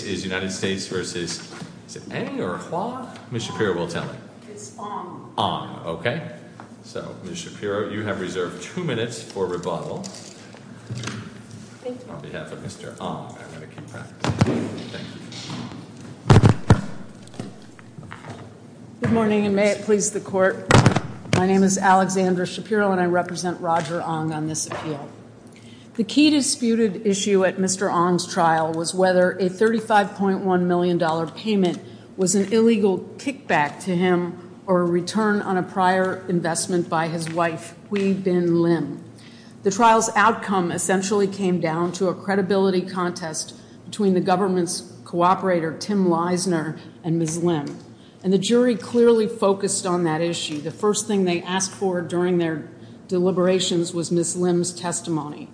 This case is United States v. A or Jho. Ms. Shapiro will tell you. It's Ong. Ong. Okay. So Ms. Shapiro, you have reserved two minutes for rebuttal on behalf of Mr. Ong. I'm going to keep practicing. Thank you. Good morning and may it please the court. My name is Alexandra Shapiro and I represent Roger Ong on this appeal. The key disputed issue at Mr. Ong's trial was whether a $35.1 million payment was an illegal kickback to him or a return on a prior investment by his wife, Huy Binh Liem. The trial's outcome essentially came down to a credibility contest between the government's cooperator, Tim Leisner, and Ms. Liem. And the jury clearly focused on that issue. The first thing they asked for during their deliberations was Ms. Liem's testimony.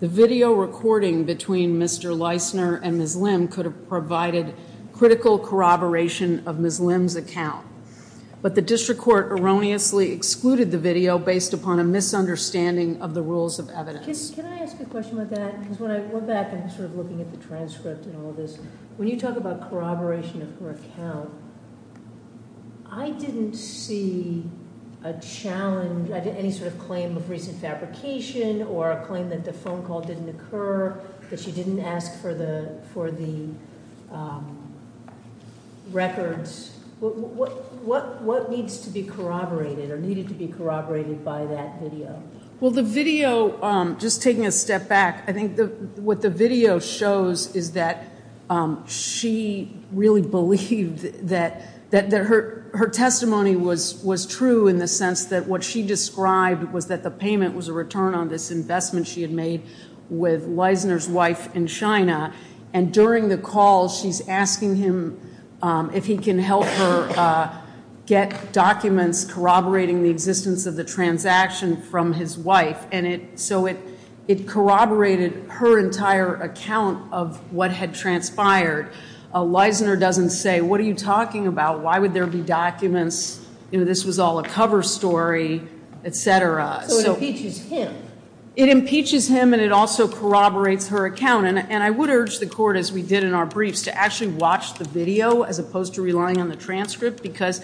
The video recording between Mr. Leisner and Ms. Liem could have provided critical corroboration of Ms. Liem's account. But the district court erroneously excluded the video based upon a misunderstanding of the rules of evidence. Can I ask a question about that? Because when I went back, I was sort of looking at the transcript and all this. When you talk about corroboration of her account, I didn't see a challenge, any sort of claim of recent fabrication or a claim that the phone call didn't occur, that she didn't ask for the records. What needs to be corroborated or needed to be corroborated by that video? Well, the video, just taking a step back, I think what the video shows is that she really believed that her testimony was true in the sense that what she described was that the payment was a return on this investment she had made with Leisner's wife in China. And during the call, she's asking him if he can help her get documents corroborating the existence of the transaction from his wife. And so it corroborated her entire account of what had transpired. Leisner doesn't say, what are you talking about? Why would there be documents? This was all a cover story, etc. So it impeaches him. It impeaches him and it also corroborates her account. And I would urge the court, as we did in our briefs, to actually watch the video as opposed to relying on the transcript because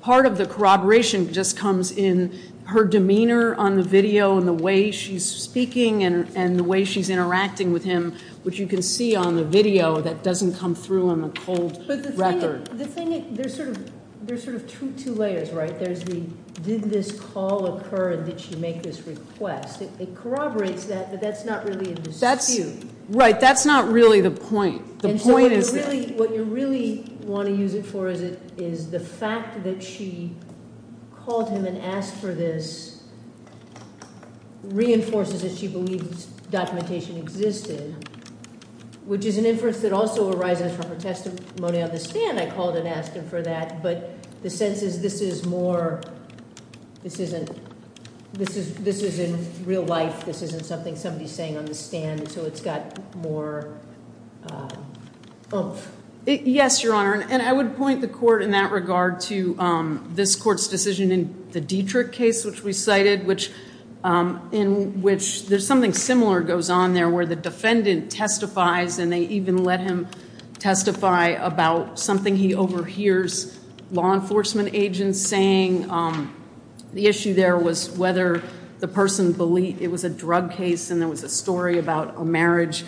part of the corroboration just comes in her demeanor on the video and the way she's speaking and the way she's interacting with him, which you can see on the video that doesn't come through on the cold record. But the thing is, there's sort of two layers, right? There's the, did this call occur and did she make this request? It corroborates that, but that's not really a dispute. Right, that's not really the point. The point is that... And so what you really want to use it for is it, is the fact that she called him and asked for this reinforces that she believes documentation existed, which is an inference that also arises from her testimony on the stand. I called and asked him for that, but the sense is this is more, this isn't, this is, this is in real life. This isn't something somebody's saying on the stand. So it's got more... Yes, Your Honor. And I would point the court in that regard to this court's decision in the Dietrich case, which we cited, which in which there's something similar goes on there where the defendant testifies and they even let him testify about something he overhears law enforcement agents saying. The issue there was whether the person believed it was a drug case and there was a story about a marriage.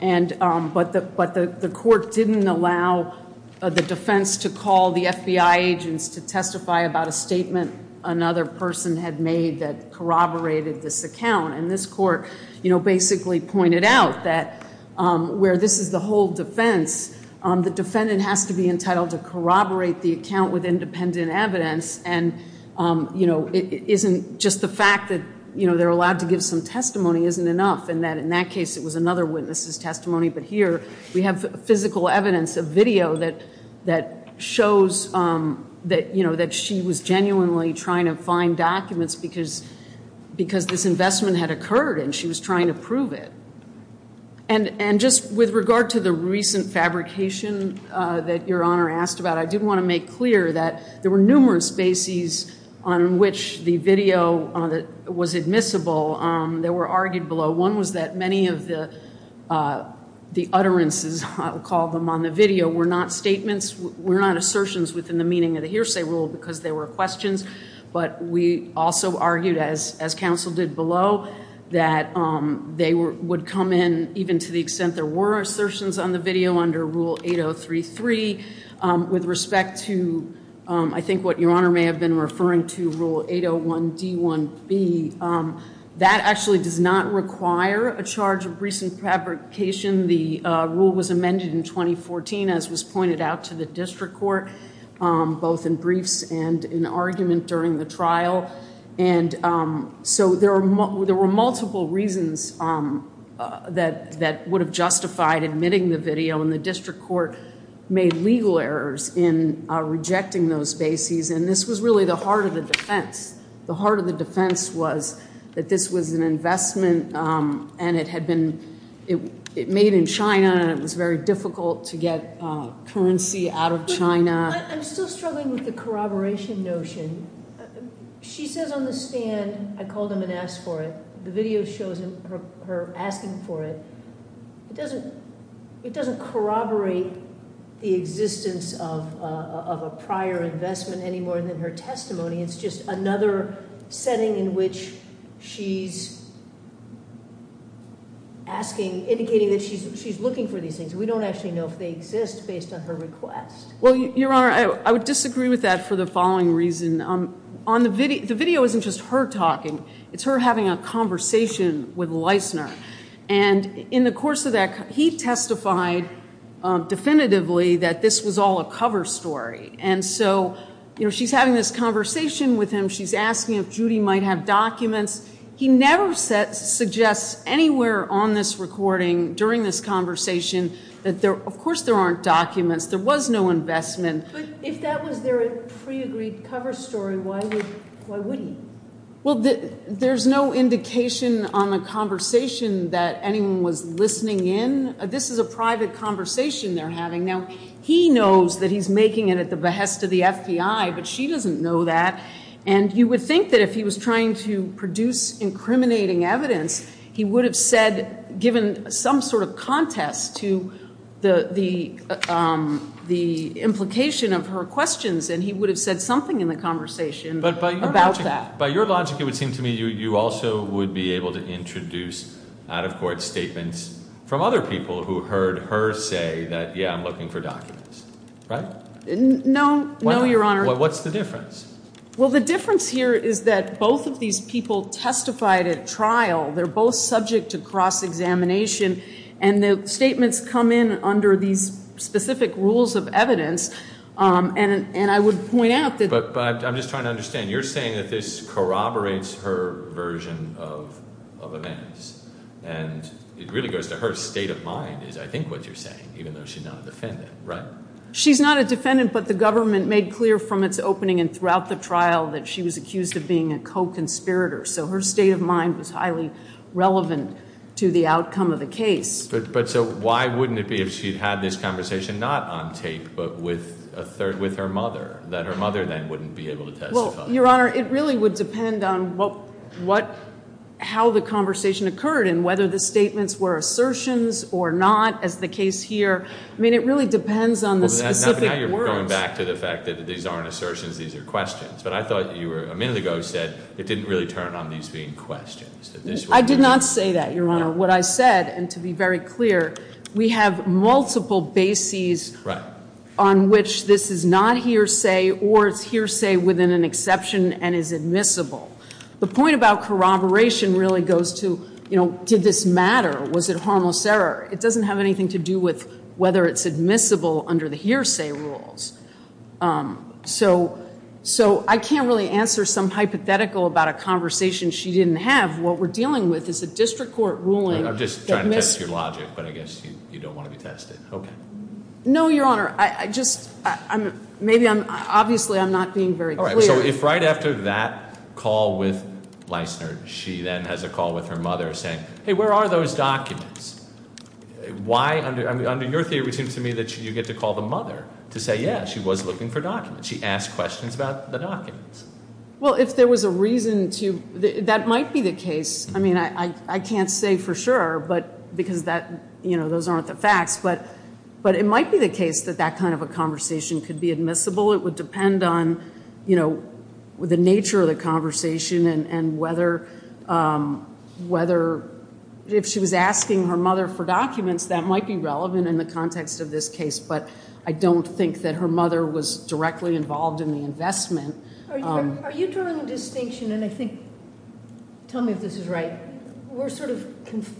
And, but the, but the court didn't allow the defense to call the FBI agents to testify about a statement another person had made that corroborated this account. And this court, you know, basically pointed out that where this is the whole defense, the defendant has to be entitled to corroborate the account with independent evidence. And, you know, it isn't just the fact that, you know, they're allowed to give some testimony isn't enough. And that in that case it was another witness's testimony. But here we have physical evidence, a video that, that shows that, you know, that she was genuinely trying to find documents because, because this investment had occurred and she was trying to prove it. And, and just with regard to the recent fabrication that Your Honor asked about, I did want to make clear that there were numerous bases on which the video was admissible that were argued below. One was that many of the, the utterances, I'll call them, on the video were not statements, were not assertions within the meaning of the hearsay rule because they were questions. But we also argued, as, as counsel did below, that they were, would come in even to the extent there were assertions on the video under Rule 8033. With respect to, I think what Your Honor may have been referring to, Rule 801D1B, that actually does not require a charge of recent fabrication. The rule was amended in 2014, as was pointed out to the district court, both in briefs and in argument during the trial. And so there are, there were multiple reasons that, that would have justified admitting the video and the district court made legal errors in rejecting those bases. And this was really the heart of the defense. The heart of the defense was that this was an investment and it had been, it, it made in China and it was very difficult to get currency out of China. I'm still struggling with the corroboration notion. She says on the stand, I called him and asked for it. The video shows her asking for it. It doesn't, it doesn't corroborate the existence of a prior investment any more than her testimony. It's just another setting in which she's asking, indicating that she's looking for these things. We don't actually know if they exist based on her request. Well, Your Honor, I would disagree with that for the following reason. On the video, the video isn't just her talking. It's her having a conversation with Leisner. And in the course of that, he testified definitively that this was all a cover story. And so, you know, she's having this conversation with him. She's asking if Judy might have documents. He never suggests anywhere on this recording during this conversation that there, of course there aren't documents. There was no investment. But if that was their pre-agreed cover story, why would he? Well, there's no indication on the conversation that anyone was listening in. This is a private conversation they're having. Now, he knows that he's making it at the behest of the FBI, but she doesn't know that. And you would think that if he was trying to produce incriminating evidence, he would have said, given some sort of contest to the, the, the implications of her questions, and he would have said something in the conversation about that. By your logic, it would seem to me you also would be able to introduce out-of-court statements from other people who heard her say that, yeah, I'm looking for documents, right? No, no, Your Honor. What's the difference? Well, the difference here is that both of these people testified at trial. They're both subject to cross-examination. And the statements come in under these specific rules of evidence. And I would point out that... But, but I'm just trying to understand. You're saying that this corroborates her version of, of events. And it really goes to her state of mind, is I think what you're saying, even though she's not a defendant, right? She's not a defendant, but the government made clear from its opening and throughout the trial that she was accused of being a co-conspirator. So her state of mind was highly relevant to the outcome of the case. But, but so why wouldn't it be if she'd had this conversation, not on tape, but with a third, with her mother, that her mother then wouldn't be able to testify? Well, Your Honor, it really would depend on what, what, how the conversation occurred and whether the statements were assertions or not, as the case here. I mean, it really depends on the specific words. Well, but now you're going back to the fact that these aren't assertions, these are questions. But I thought you were, a minute ago, said it didn't really turn on these being questions. I did not say that, Your Honor. What I said, and to be very clear, we have multiple bases on which this is not hearsay or it's hearsay within an exception and is admissible. The point about corroboration really goes to, you know, did this matter? Was it harmless error? It doesn't have anything to do with whether it's admissible under the hearsay rules. So, so I can't really answer some hypothetical about a conversation she didn't have. What we're dealing with is a district court ruling. I'm just trying to test your logic, but I guess you, you don't want to be tested. Okay. No, Your Honor. I just, I'm, maybe I'm, obviously I'm not being very clear. All right. So if right after that call with Leissner, she then has a call with her mother saying, hey, where are those documents? Why under, under your theory, it seems to me that you get to call the mother to say, yeah, she was looking for documents. She asked questions about the documents. Well, if there was a reason to, that might be the case. I mean, I, I can't say for sure, but because that, you know, those aren't the facts, but, but it might be the case that that kind of a conversation could be admissible. It would depend on, you know, the nature of the conversation and, and whether, whether if she was asking her mother for documents, that might be relevant in the context of this case. But I don't think that her mother was directly involved in the investment. Are you drawing a distinction? And I think, tell me if this is right. We're sort of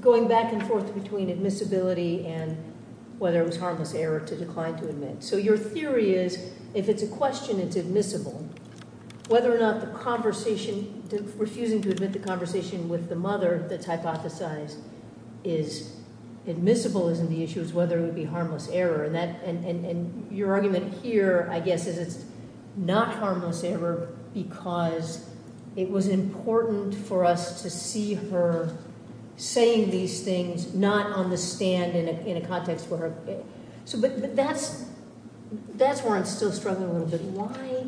going back and forth between admissibility and whether it was harmless error to decline to admit. So your theory is, if it's a question, it's admissible. Whether or not the conversation to, refusing to admit the conversation with the mother that's hypothesized is admissible isn't the issue. It's whether it would be harmless error. And that, and, and, and your argument here, I guess, is it's not harmless error because it was important for us to see her saying these things, not on the stand in a, in a context where, so, but, but that's, that's where I'm still struggling a little bit. Why,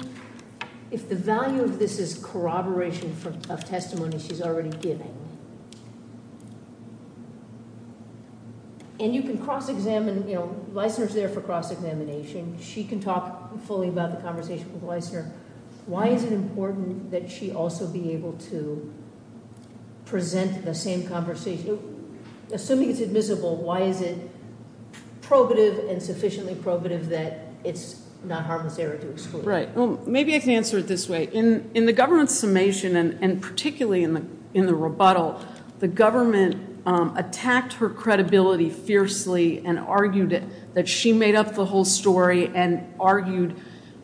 if the value of this is corroboration of testimony she's already given, and you can cross-examine, you know, Leisner's there for cross-examination. She can talk fully about the conversation with Leisner. Why is it important that she also be able to present the same conversation? Assuming it's admissible, why is it probative and sufficiently probative that it's not harmless error to exclude? Right. Well, maybe I can answer it this way. In, in the government's summation and, and particularly in the, in the rebuttal, the government attacked her credibility fiercely and argued that she made up the whole story and argued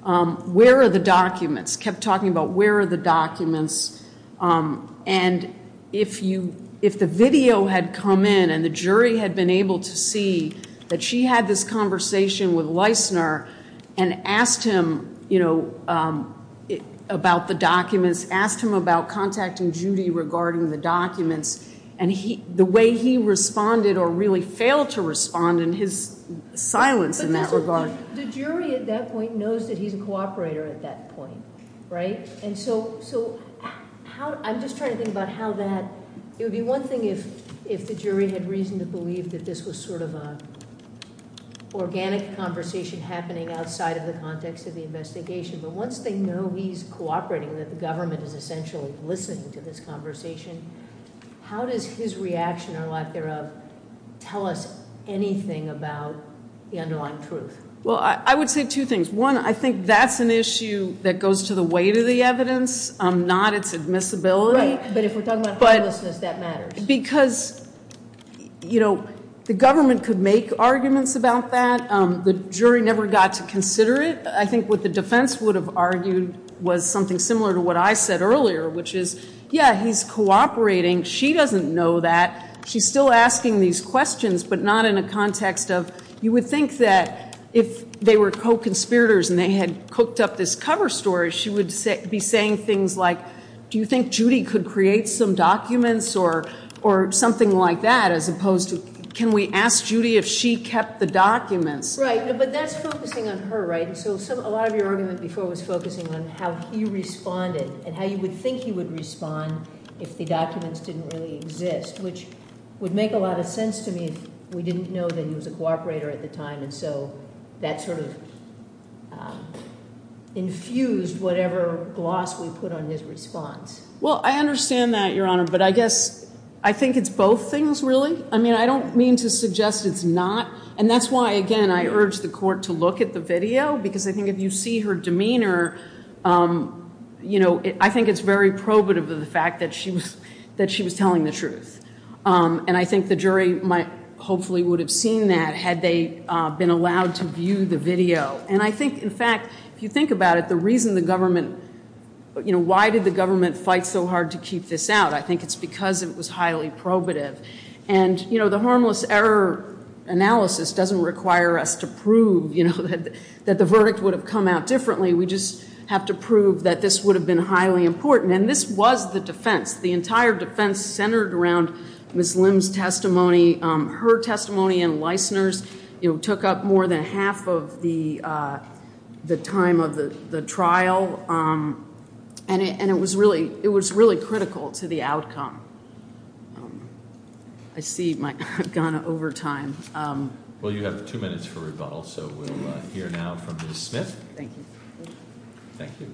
where are the documents, kept talking about where are the documents. And if you, if the video had come in and the jury had been able to see that she had this conversation with Leisner and asked him, you know, about the documents, asked him about contacting Judy regarding the documents and he, the way he responded or really failed to respond in his silence in that regard. The jury at that point knows that he's a cooperator at that point, right? And so, so how, I'm just trying to think about how that, it would be one thing if, if the jury had reason to believe that this was sort of a organic conversation happening outside of the context of the investigation, but once they know he's cooperating, that the government is essentially listening to this conversation, how does his reaction or lack thereof tell us anything about the underlying truth? Well, I, I would say two things. One, I think that's an issue that goes to the weight of the evidence, not its admissibility. Right, but if we're talking about homelessness, that matters. Because, you know, the government could make arguments about that. The jury never got to consider it. I think what the defense would have argued was something similar to what I said earlier, which is, yeah, he's cooperating. She doesn't know that. She's still asking these questions, but not in a context of, you would think that if they were real conspirators and they had cooked up this cover story, she would say, be saying things like, do you think Judy could create some documents or, or something like that, as opposed to, can we ask Judy if she kept the documents? Right, but that's focusing on her, right? And so some, a lot of your argument before was focusing on how he responded and how you would think he would respond if the documents didn't really exist, which would make a lot of sense to me if we didn't know that he was a cooperator at the time and so that sort of infused whatever gloss we put on his response. Well, I understand that, Your Honor, but I guess I think it's both things, really. I mean, I don't mean to suggest it's not, and that's why, again, I urge the court to look at the video, because I think if you see her demeanor, you know, I think it's very probative of the fact that she was, that she was telling the truth. And I think the jury might hopefully would have seen that had they been allowed to view the video. And I think, in fact, if you think about it, the reason the government, you know, why did the government fight so hard to keep this out? I think it's because it was highly probative. And, you know, the harmless error analysis doesn't require us to prove, you know, that the verdict would have come out differently. We just have to prove that this would have been highly important. And this was the defense, the entire defense centered around Ms. Lim's testimony. Her testimony and Leisner's, you know, took up more than half of the time of the trial. And it was really, it was really critical to the outcome. I see my, I've gone over time. Well, you have two minutes for rebuttal, so we'll hear now from Ms. Smith. Thank you. Thank you.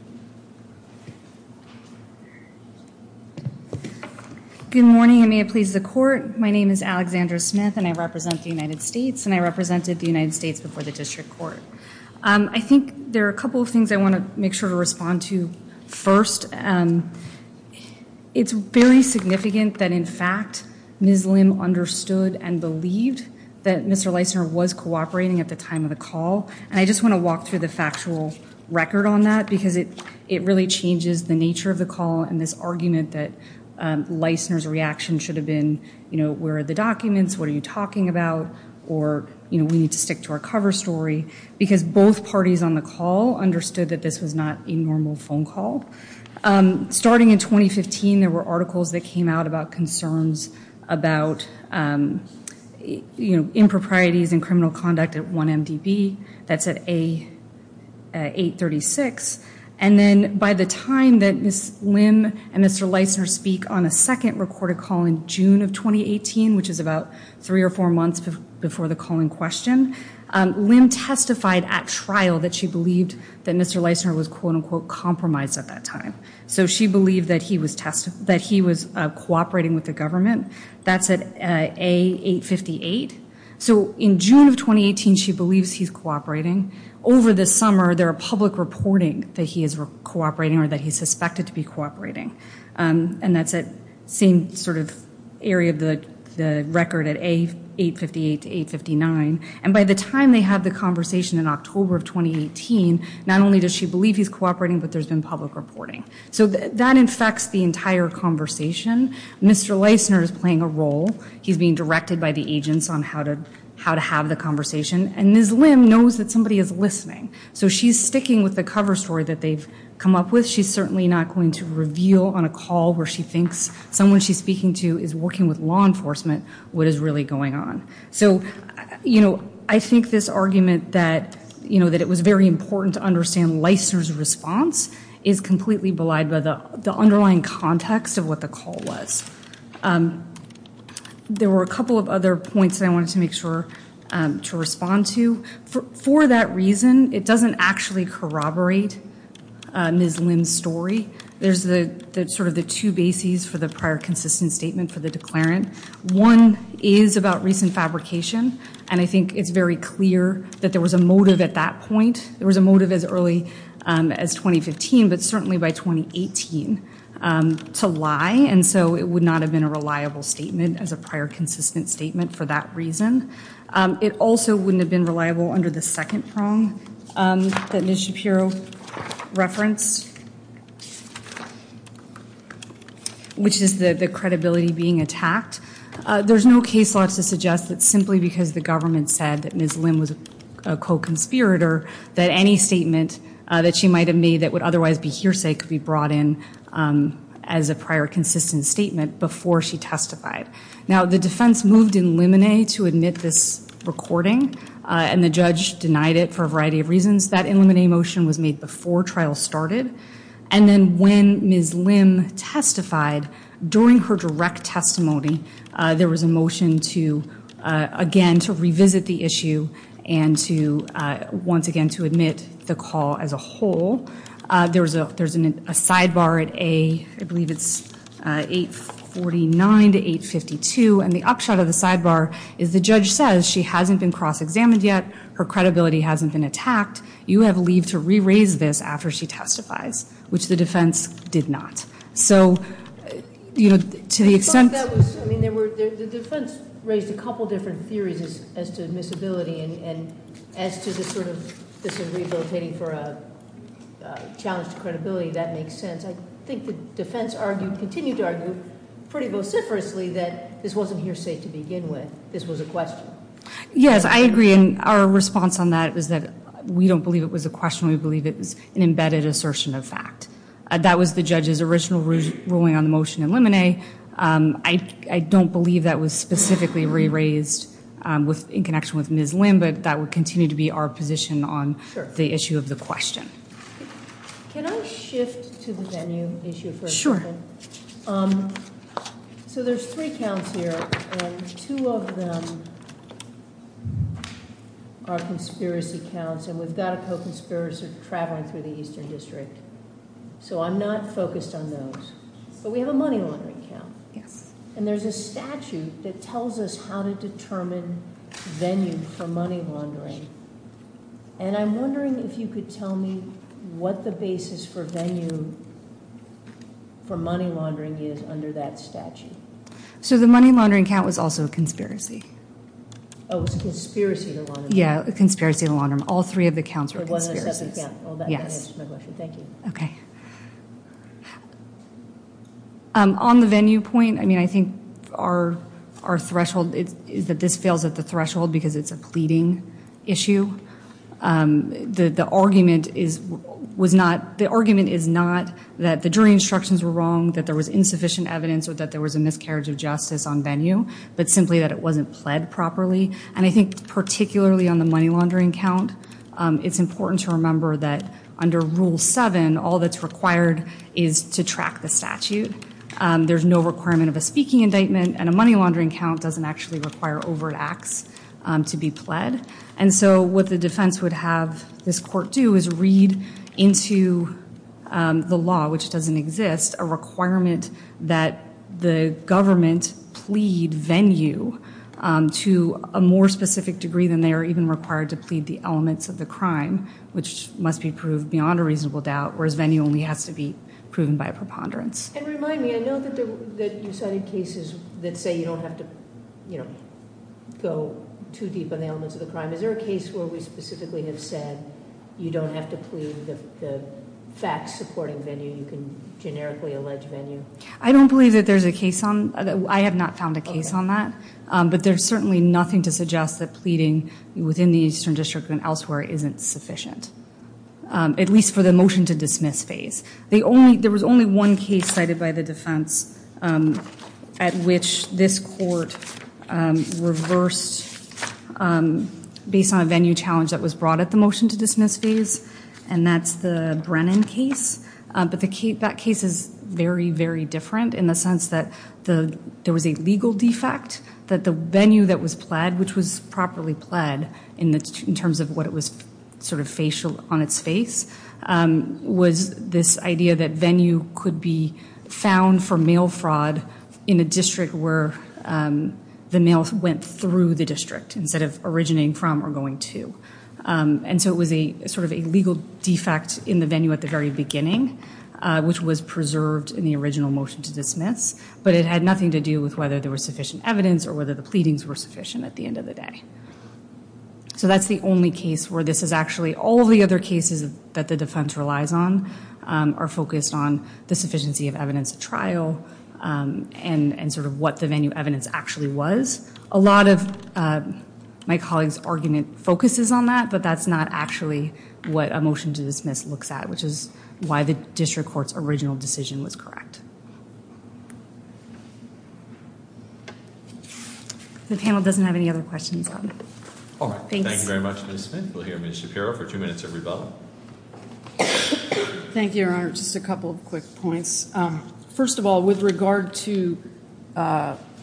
Good morning, and may it please the court. My name is Alexandra Smith, and I represent the United States, and I represented the United States before the district court. I think there are a couple of things I want to make sure to respond to first. It's very significant that, in fact, Ms. Lim understood and believed that Mr. Leisner was cooperating at the time of the call. And I just want to walk through the factual record on that, because it really changes the nature of the call and this argument that Leisner's reaction should have been, you know, where are the documents? What are you talking about? Or, you know, we need to stick to our cover story. Because both parties on the call understood that this was not a normal phone call. Starting in 2015, there were articles that came out about about, you know, improprieties and criminal conduct at 1MDB. That's at A836. And then by the time that Ms. Lim and Mr. Leisner speak on a second recorded call in June of 2018, which is about three or four months before the call in question, Lim testified at trial that she believed that Mr. Leisner was quote-unquote compromised at that time. So she believed that he was cooperating with the government. That's at A858. So in June of 2018, she believes he's cooperating. Over the summer, there are public reporting that he is cooperating or that he's suspected to be cooperating. And that's at same sort of area of the record at A858 to 859. And by the time they have the conversation in October of 2018, not only does she believe he's cooperating, but there's been public reporting. So that infects the entire conversation. Mr. Leisner is playing a role. He's being directed by the agents on how to have the conversation. And Ms. Lim knows that somebody is listening. So she's sticking with the cover story that they've come up with. She's certainly not going to reveal on a call where she thinks someone she's speaking to is working with law enforcement what is really going on. So, you know, I think this argument that, you know, that it was very important to understand Leisner's response is completely belied by the underlying context of what the call was. There were a couple of other points that I wanted to make sure to respond to. For that reason, it doesn't actually corroborate Ms. Lim's story. There's the sort of the two bases for the prior consistent statement for the declarant. One is about recent fabrication. And I think it's very clear that there was a motive at that point. There was a motive as early as 2015, but certainly by 2018 to lie. And so it would not have been a reliable statement as a prior consistent statement for that reason. It also wouldn't have been reliable under the second prong that Ms. Shapiro referenced, which is the credibility being attacked. There's no case law to suggest that simply because the government said that Ms. Lim was a co-conspirator that any statement that she might have made that would otherwise be hearsay could be brought in as a prior consistent statement before she testified. Now, the defense moved in limine to admit this recording and the judge denied it for a variety of reasons. That in limine motion was made before trial started. And then when Ms. Lim testified, during her direct testimony, there was a motion to again to revisit the issue and to once again to admit the call as a whole. There's a sidebar at A, I believe it's 849 to 852. And the upshot of the sidebar is the judge says she hasn't been cross-examined yet. Her credibility hasn't been attacked. You have to leave to re-raise this after she testifies, which the defense did not. So, you know, to the extent- I mean, the defense raised a couple different theories as to admissibility and as to the sort of disagreed rotating for a challenged credibility, that makes sense. I think the defense argued, continued to argue, pretty vociferously that this wasn't hearsay to begin with. This was a question. Yes, I agree. And our response on that was that we don't believe it was a question. We believe it was an embedded assertion of fact. That was the judge's original ruling on the motion in limine. I don't believe that was specifically re-raised in connection with Ms. Lim, but that would continue to be our position on the issue of the question. Can I shift to the venue issue for a second? Sure. So, there's three counts here, and two of them are conspiracy counts, and we've got a co-conspirator traveling through the Eastern District. So, I'm not focused on those, but we have a money laundering count. Yes. And there's a statute that tells us how to determine venue for money laundering, and I'm wondering if you could tell me what the basis for venue for money laundering is under that statute. So, the money laundering count was also a conspiracy. Oh, it was a conspiracy to launder. Yeah, a conspiracy to launder. All three of the counts were conspiracies. Yes. Thank you. Okay. On the venue point, I mean, I think our threshold is that this fails at the threshold because it's a pleading issue. The argument is not that the jury instructions were wrong, that there was insufficient evidence, or that there was a miscarriage of justice on venue, but simply that it wasn't pled properly. And I think particularly on the money laundering count, it's important to remember that under Rule 7, all that's required is to track the statute. There's no requirement of a speaking indictment, and a money laundering count doesn't actually require overt acts to be pled. And so, what the defense would have this court do is read into the law, which doesn't exist, a requirement that the government plead venue to a more specific degree than they are even required to plead the elements of the crime, which must be proved beyond a reasonable doubt, whereas venue only has to be proven by a preponderance. And go too deep on the elements of the crime. Is there a case where we specifically have said you don't have to plead the facts supporting venue, you can generically allege venue? I don't believe that there's a case on that. I have not found a case on that. But there's certainly nothing to suggest that pleading within the Eastern District and elsewhere isn't sufficient, at least for the motion to dismiss phase. There was only one case cited by the defense at which this court reversed based on a venue challenge that was brought at the motion to dismiss phase, and that's the Brennan case. But that case is very, very different in the sense that there was a legal defect that the venue that was pled, which was properly pled in terms of what sort of facial on its face, was this idea that venue could be found for mail fraud in a district where the mail went through the district instead of originating from or going to. And so it was a sort of a legal defect in the venue at the very beginning, which was preserved in the original motion to dismiss, but it had nothing to do with whether there was sufficient evidence or whether the pleadings were sufficient at the end of the day. So that's the only case where this is actually all the other cases that the defense relies on are focused on the sufficiency of evidence at trial and sort of what the venue evidence actually was. A lot of my colleagues' argument focuses on that, but that's not actually what a motion to dismiss looks at, which is why the district court's original decision was correct. The panel doesn't have any other questions. All right. Thank you very much, Ms. Smith. We'll hear Ms. Shapiro for two minutes every vote. Thank you, Your Honor. Just a couple of quick points. First of all, with regard to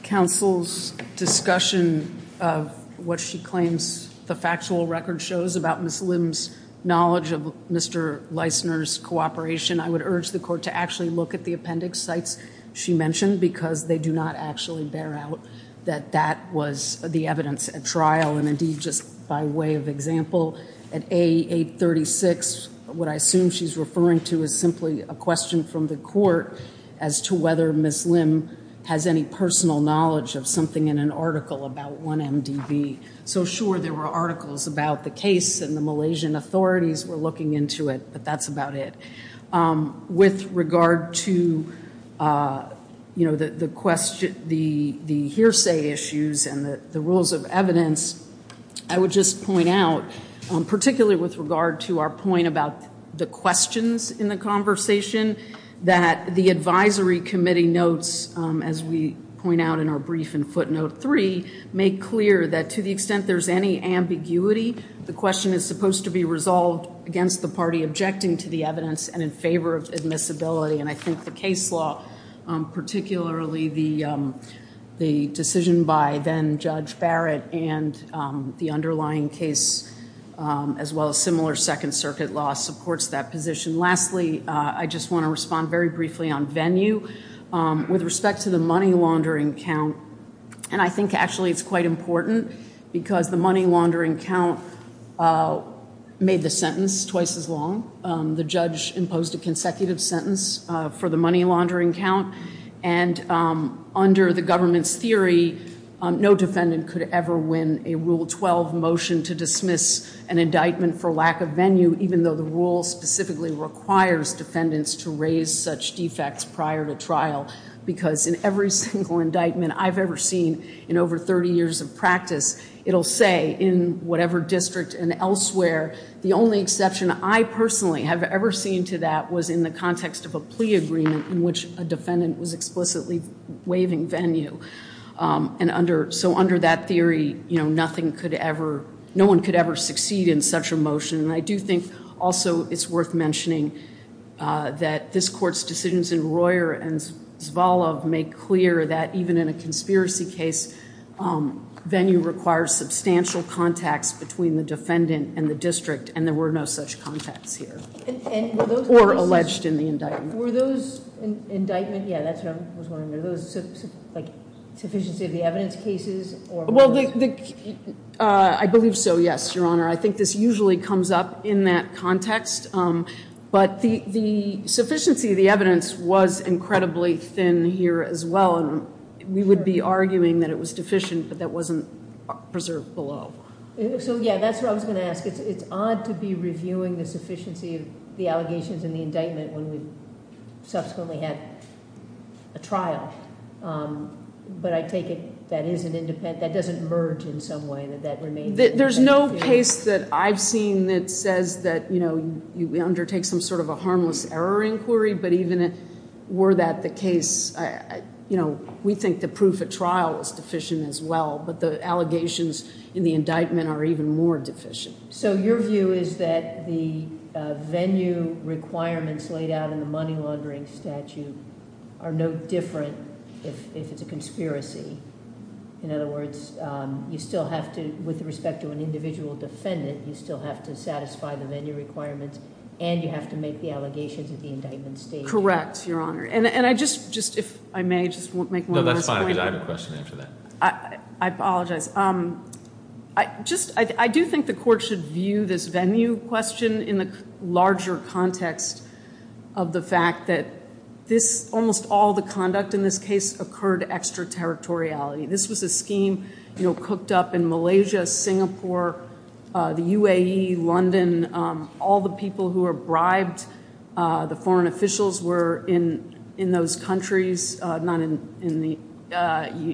counsel's discussion of what she claims the factual record shows about Ms. Lim's knowledge of Mr. Leisner's cooperation, I would urge the court to actually look at the appendix sites she mentioned because they do not actually bear out that that was the evidence at trial. And indeed, just by way of example, at A836, what I assume she's referring to is simply a question from the court as to whether Ms. Lim has any personal knowledge of something in an article about 1MDB. So sure, there were articles about the case and the Malaysian authorities were looking into it, but that's about it. With regard to, you know, the question, the hearsay issues and the rules of evidence, I would just point out, particularly with regard to our point about the questions in the conversation, that the advisory committee notes, as we point out in our brief in footnote three, make clear that to the extent there's any ambiguity, the question is supposed to be resolved against the party objecting to the evidence and in favor of admissibility. And I think the case law, particularly the decision by then-Judge Barrett and the underlying case, as well as similar Second Circuit law, supports that position. Lastly, I just want to respond very briefly on venue. With respect to the money laundering count, and I think actually it's quite important, because the money laundering count made the sentence twice as long. The judge imposed a consecutive sentence for the money laundering count, and under the government's theory, no defendant could ever win a Rule 12 motion to dismiss an indictment for lack of venue, even though the rule specifically requires defendants to raise such defects prior to trial, because in every single indictment I've ever seen in over 30 years of practice, it'll say in whatever district and elsewhere, the only exception I personally have ever seen to that was in the context of a plea agreement in which a defendant was explicitly waiving venue. And under, so under that theory, you know, nothing could ever, no one could ever succeed in such a motion. And I do think also it's worth mentioning that this Court's decisions in Royer and Zvalov make clear that even in a conspiracy case, venue requires substantial contacts between the defendant and the district, and there were no such contacts here, or alleged in the indictment. Were those indictment, yeah that's what I was wondering, are those like sufficiency of the evidence cases? Well, I believe so, yes, Your Honor. I think this usually comes up in that context, but the the sufficiency of the evidence was incredibly thin here as well, and we would be arguing that it was deficient, but that wasn't preserved below. So yeah, that's what I was going to ask. It's odd to be reviewing the sufficiency of the allegations in the indictment when we've subsequently had a trial, but I take it that isn't independent, that doesn't merge in some way, that that remains. There's no case that I've seen that says that, you know, you undertake some sort of a harmless error inquiry, but even were that the case, you know, we think the proof at trial is deficient as well, but the allegations in the indictment are even more deficient. So your view is that the venue requirements laid out in the money laundering statute are no different if it's a conspiracy? In other words, you still have to, with respect to an individual defendant, you still have to satisfy the venue requirements, and you have to make the allegations at the indictment stage? Correct, Your Honor, and I just, if I may, just make one more point. No, that's fine, because I have a question after that. I apologize. I just, I do think the court should view this venue question in the larger context of the fact that this, almost all the conduct in this case, occurred extraterritoriality. This was a scheme, you know, cooked up in Malaysia, Singapore, the UAE, London, all the people who were bribed, the foreign officials were in those countries, not in the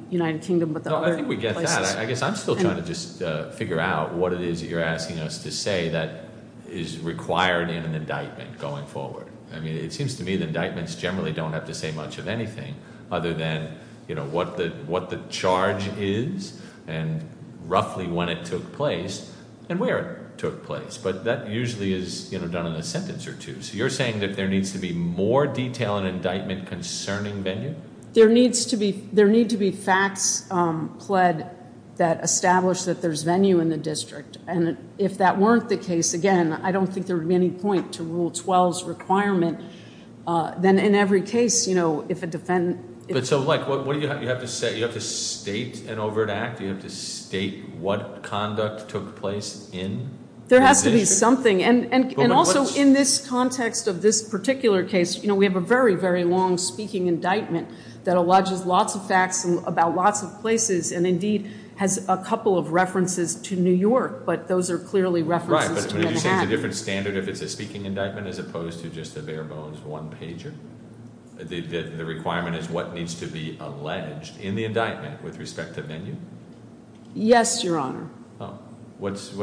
United Kingdom. No, I think we get that. I guess I'm still trying to just figure out what it is that you're asking us to say that is required in an indictment going forward. I mean, it seems to me the indictments generally don't have to say much of anything other than, you know, what the charge is, and roughly when it took place, and where it took place. But that usually is, you know, done in a sentence or two. So you're saying that there needs to be more detail in indictment concerning venue? There needs to be, there need to be facts pled that establish that there's venue in the district. And if that weren't the case, again, I don't think there would be any point to Rule 12's requirement. Then in every case, you know, if a defendant... But so, like, what do you have to say? You have to state an overt act? You have to state what conduct took place in? There has to be something. And also, in this context of this particular case, you know, we have a very, very long speaking indictment that alleges lots of facts about lots of places, and indeed has a couple of references to New York. But those are clearly references to Manhattan. Right, but would you say it's a different standard if it's a speaking indictment as opposed to just a bare-bones one-pager? The requirement is what needs to be alleged in the indictment with respect to venue? Yes, Your Honor. Oh, what's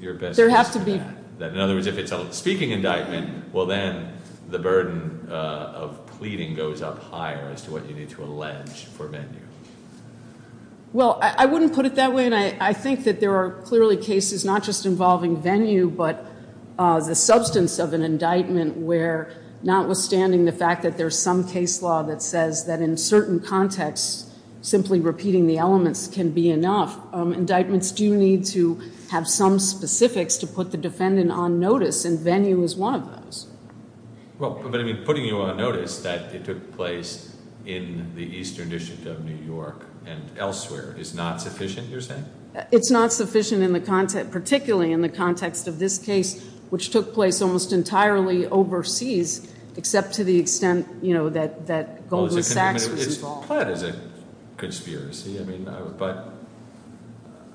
your best guess? There have to be... In other words, if it's a speaking indictment, well then, the burden of pleading goes up higher as to what you need to allege for venue. Well, I wouldn't put it that way, and I think that there are clearly cases not just involving venue, but the substance of an indictment where, notwithstanding the fact that there's some case law that says that in certain contexts, simply repeating the elements can be enough, indictments do need to have some specifics to put the defendant on notice, and venue is one of those. Well, but I mean, putting you on notice that it took place in the Eastern District of New York and elsewhere is not sufficient, you're saying? It's not sufficient in the context, particularly in the context of this case, which took place almost entirely overseas, except to the extent, you know, that Goldman Sachs was involved. Well, it is a conspiracy, I mean, but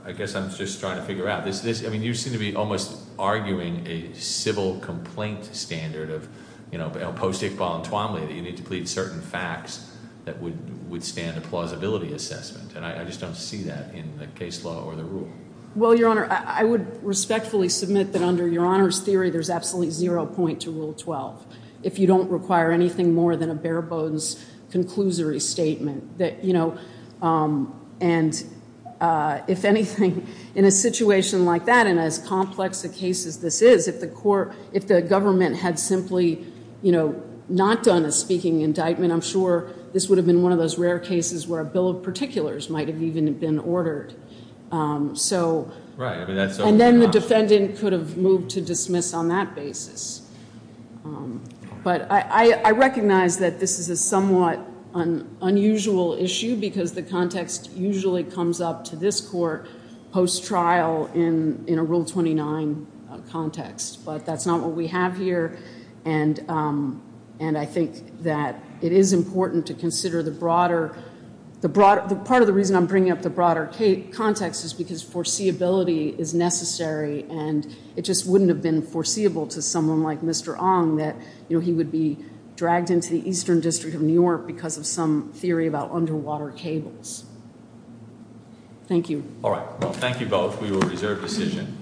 I guess I'm just trying to figure out, this is, I mean, you seem to be almost arguing a civil complaint standard of, you know, post-ict bollantwamly, that you need to plead certain facts that would withstand a plausibility assessment, and I just don't see that in the case law or the rule. Well, Your Honor, I would respectfully submit that under Your Honor's theory, there's absolutely zero point to Rule 12, if you don't require anything more than a bare-bones conclusory statement that, you know, and if anything, in a situation like that, and as complex a case as this is, if the court, if the government had simply, you know, not done a speaking indictment, I'm sure this would have been one of those rare cases where a bill of particulars might have even been ordered. So, and then the defendant could have moved to dismiss on that basis. But I recognize that this is a somewhat unusual issue because the context usually comes up to this court post-trial in a Rule 29 context, but that's not what we have here, and I think that it is important to consider the broader, the broader, the part of the reason I'm bringing up the broader context is because foreseeability is necessary, and it just wouldn't have been foreseeable to someone like Mr. Ong that, you know, he would be dragged into the Eastern District of New York because of some theory about underwater cables. Thank you. All right. Well, thank you both. We will reserve decision.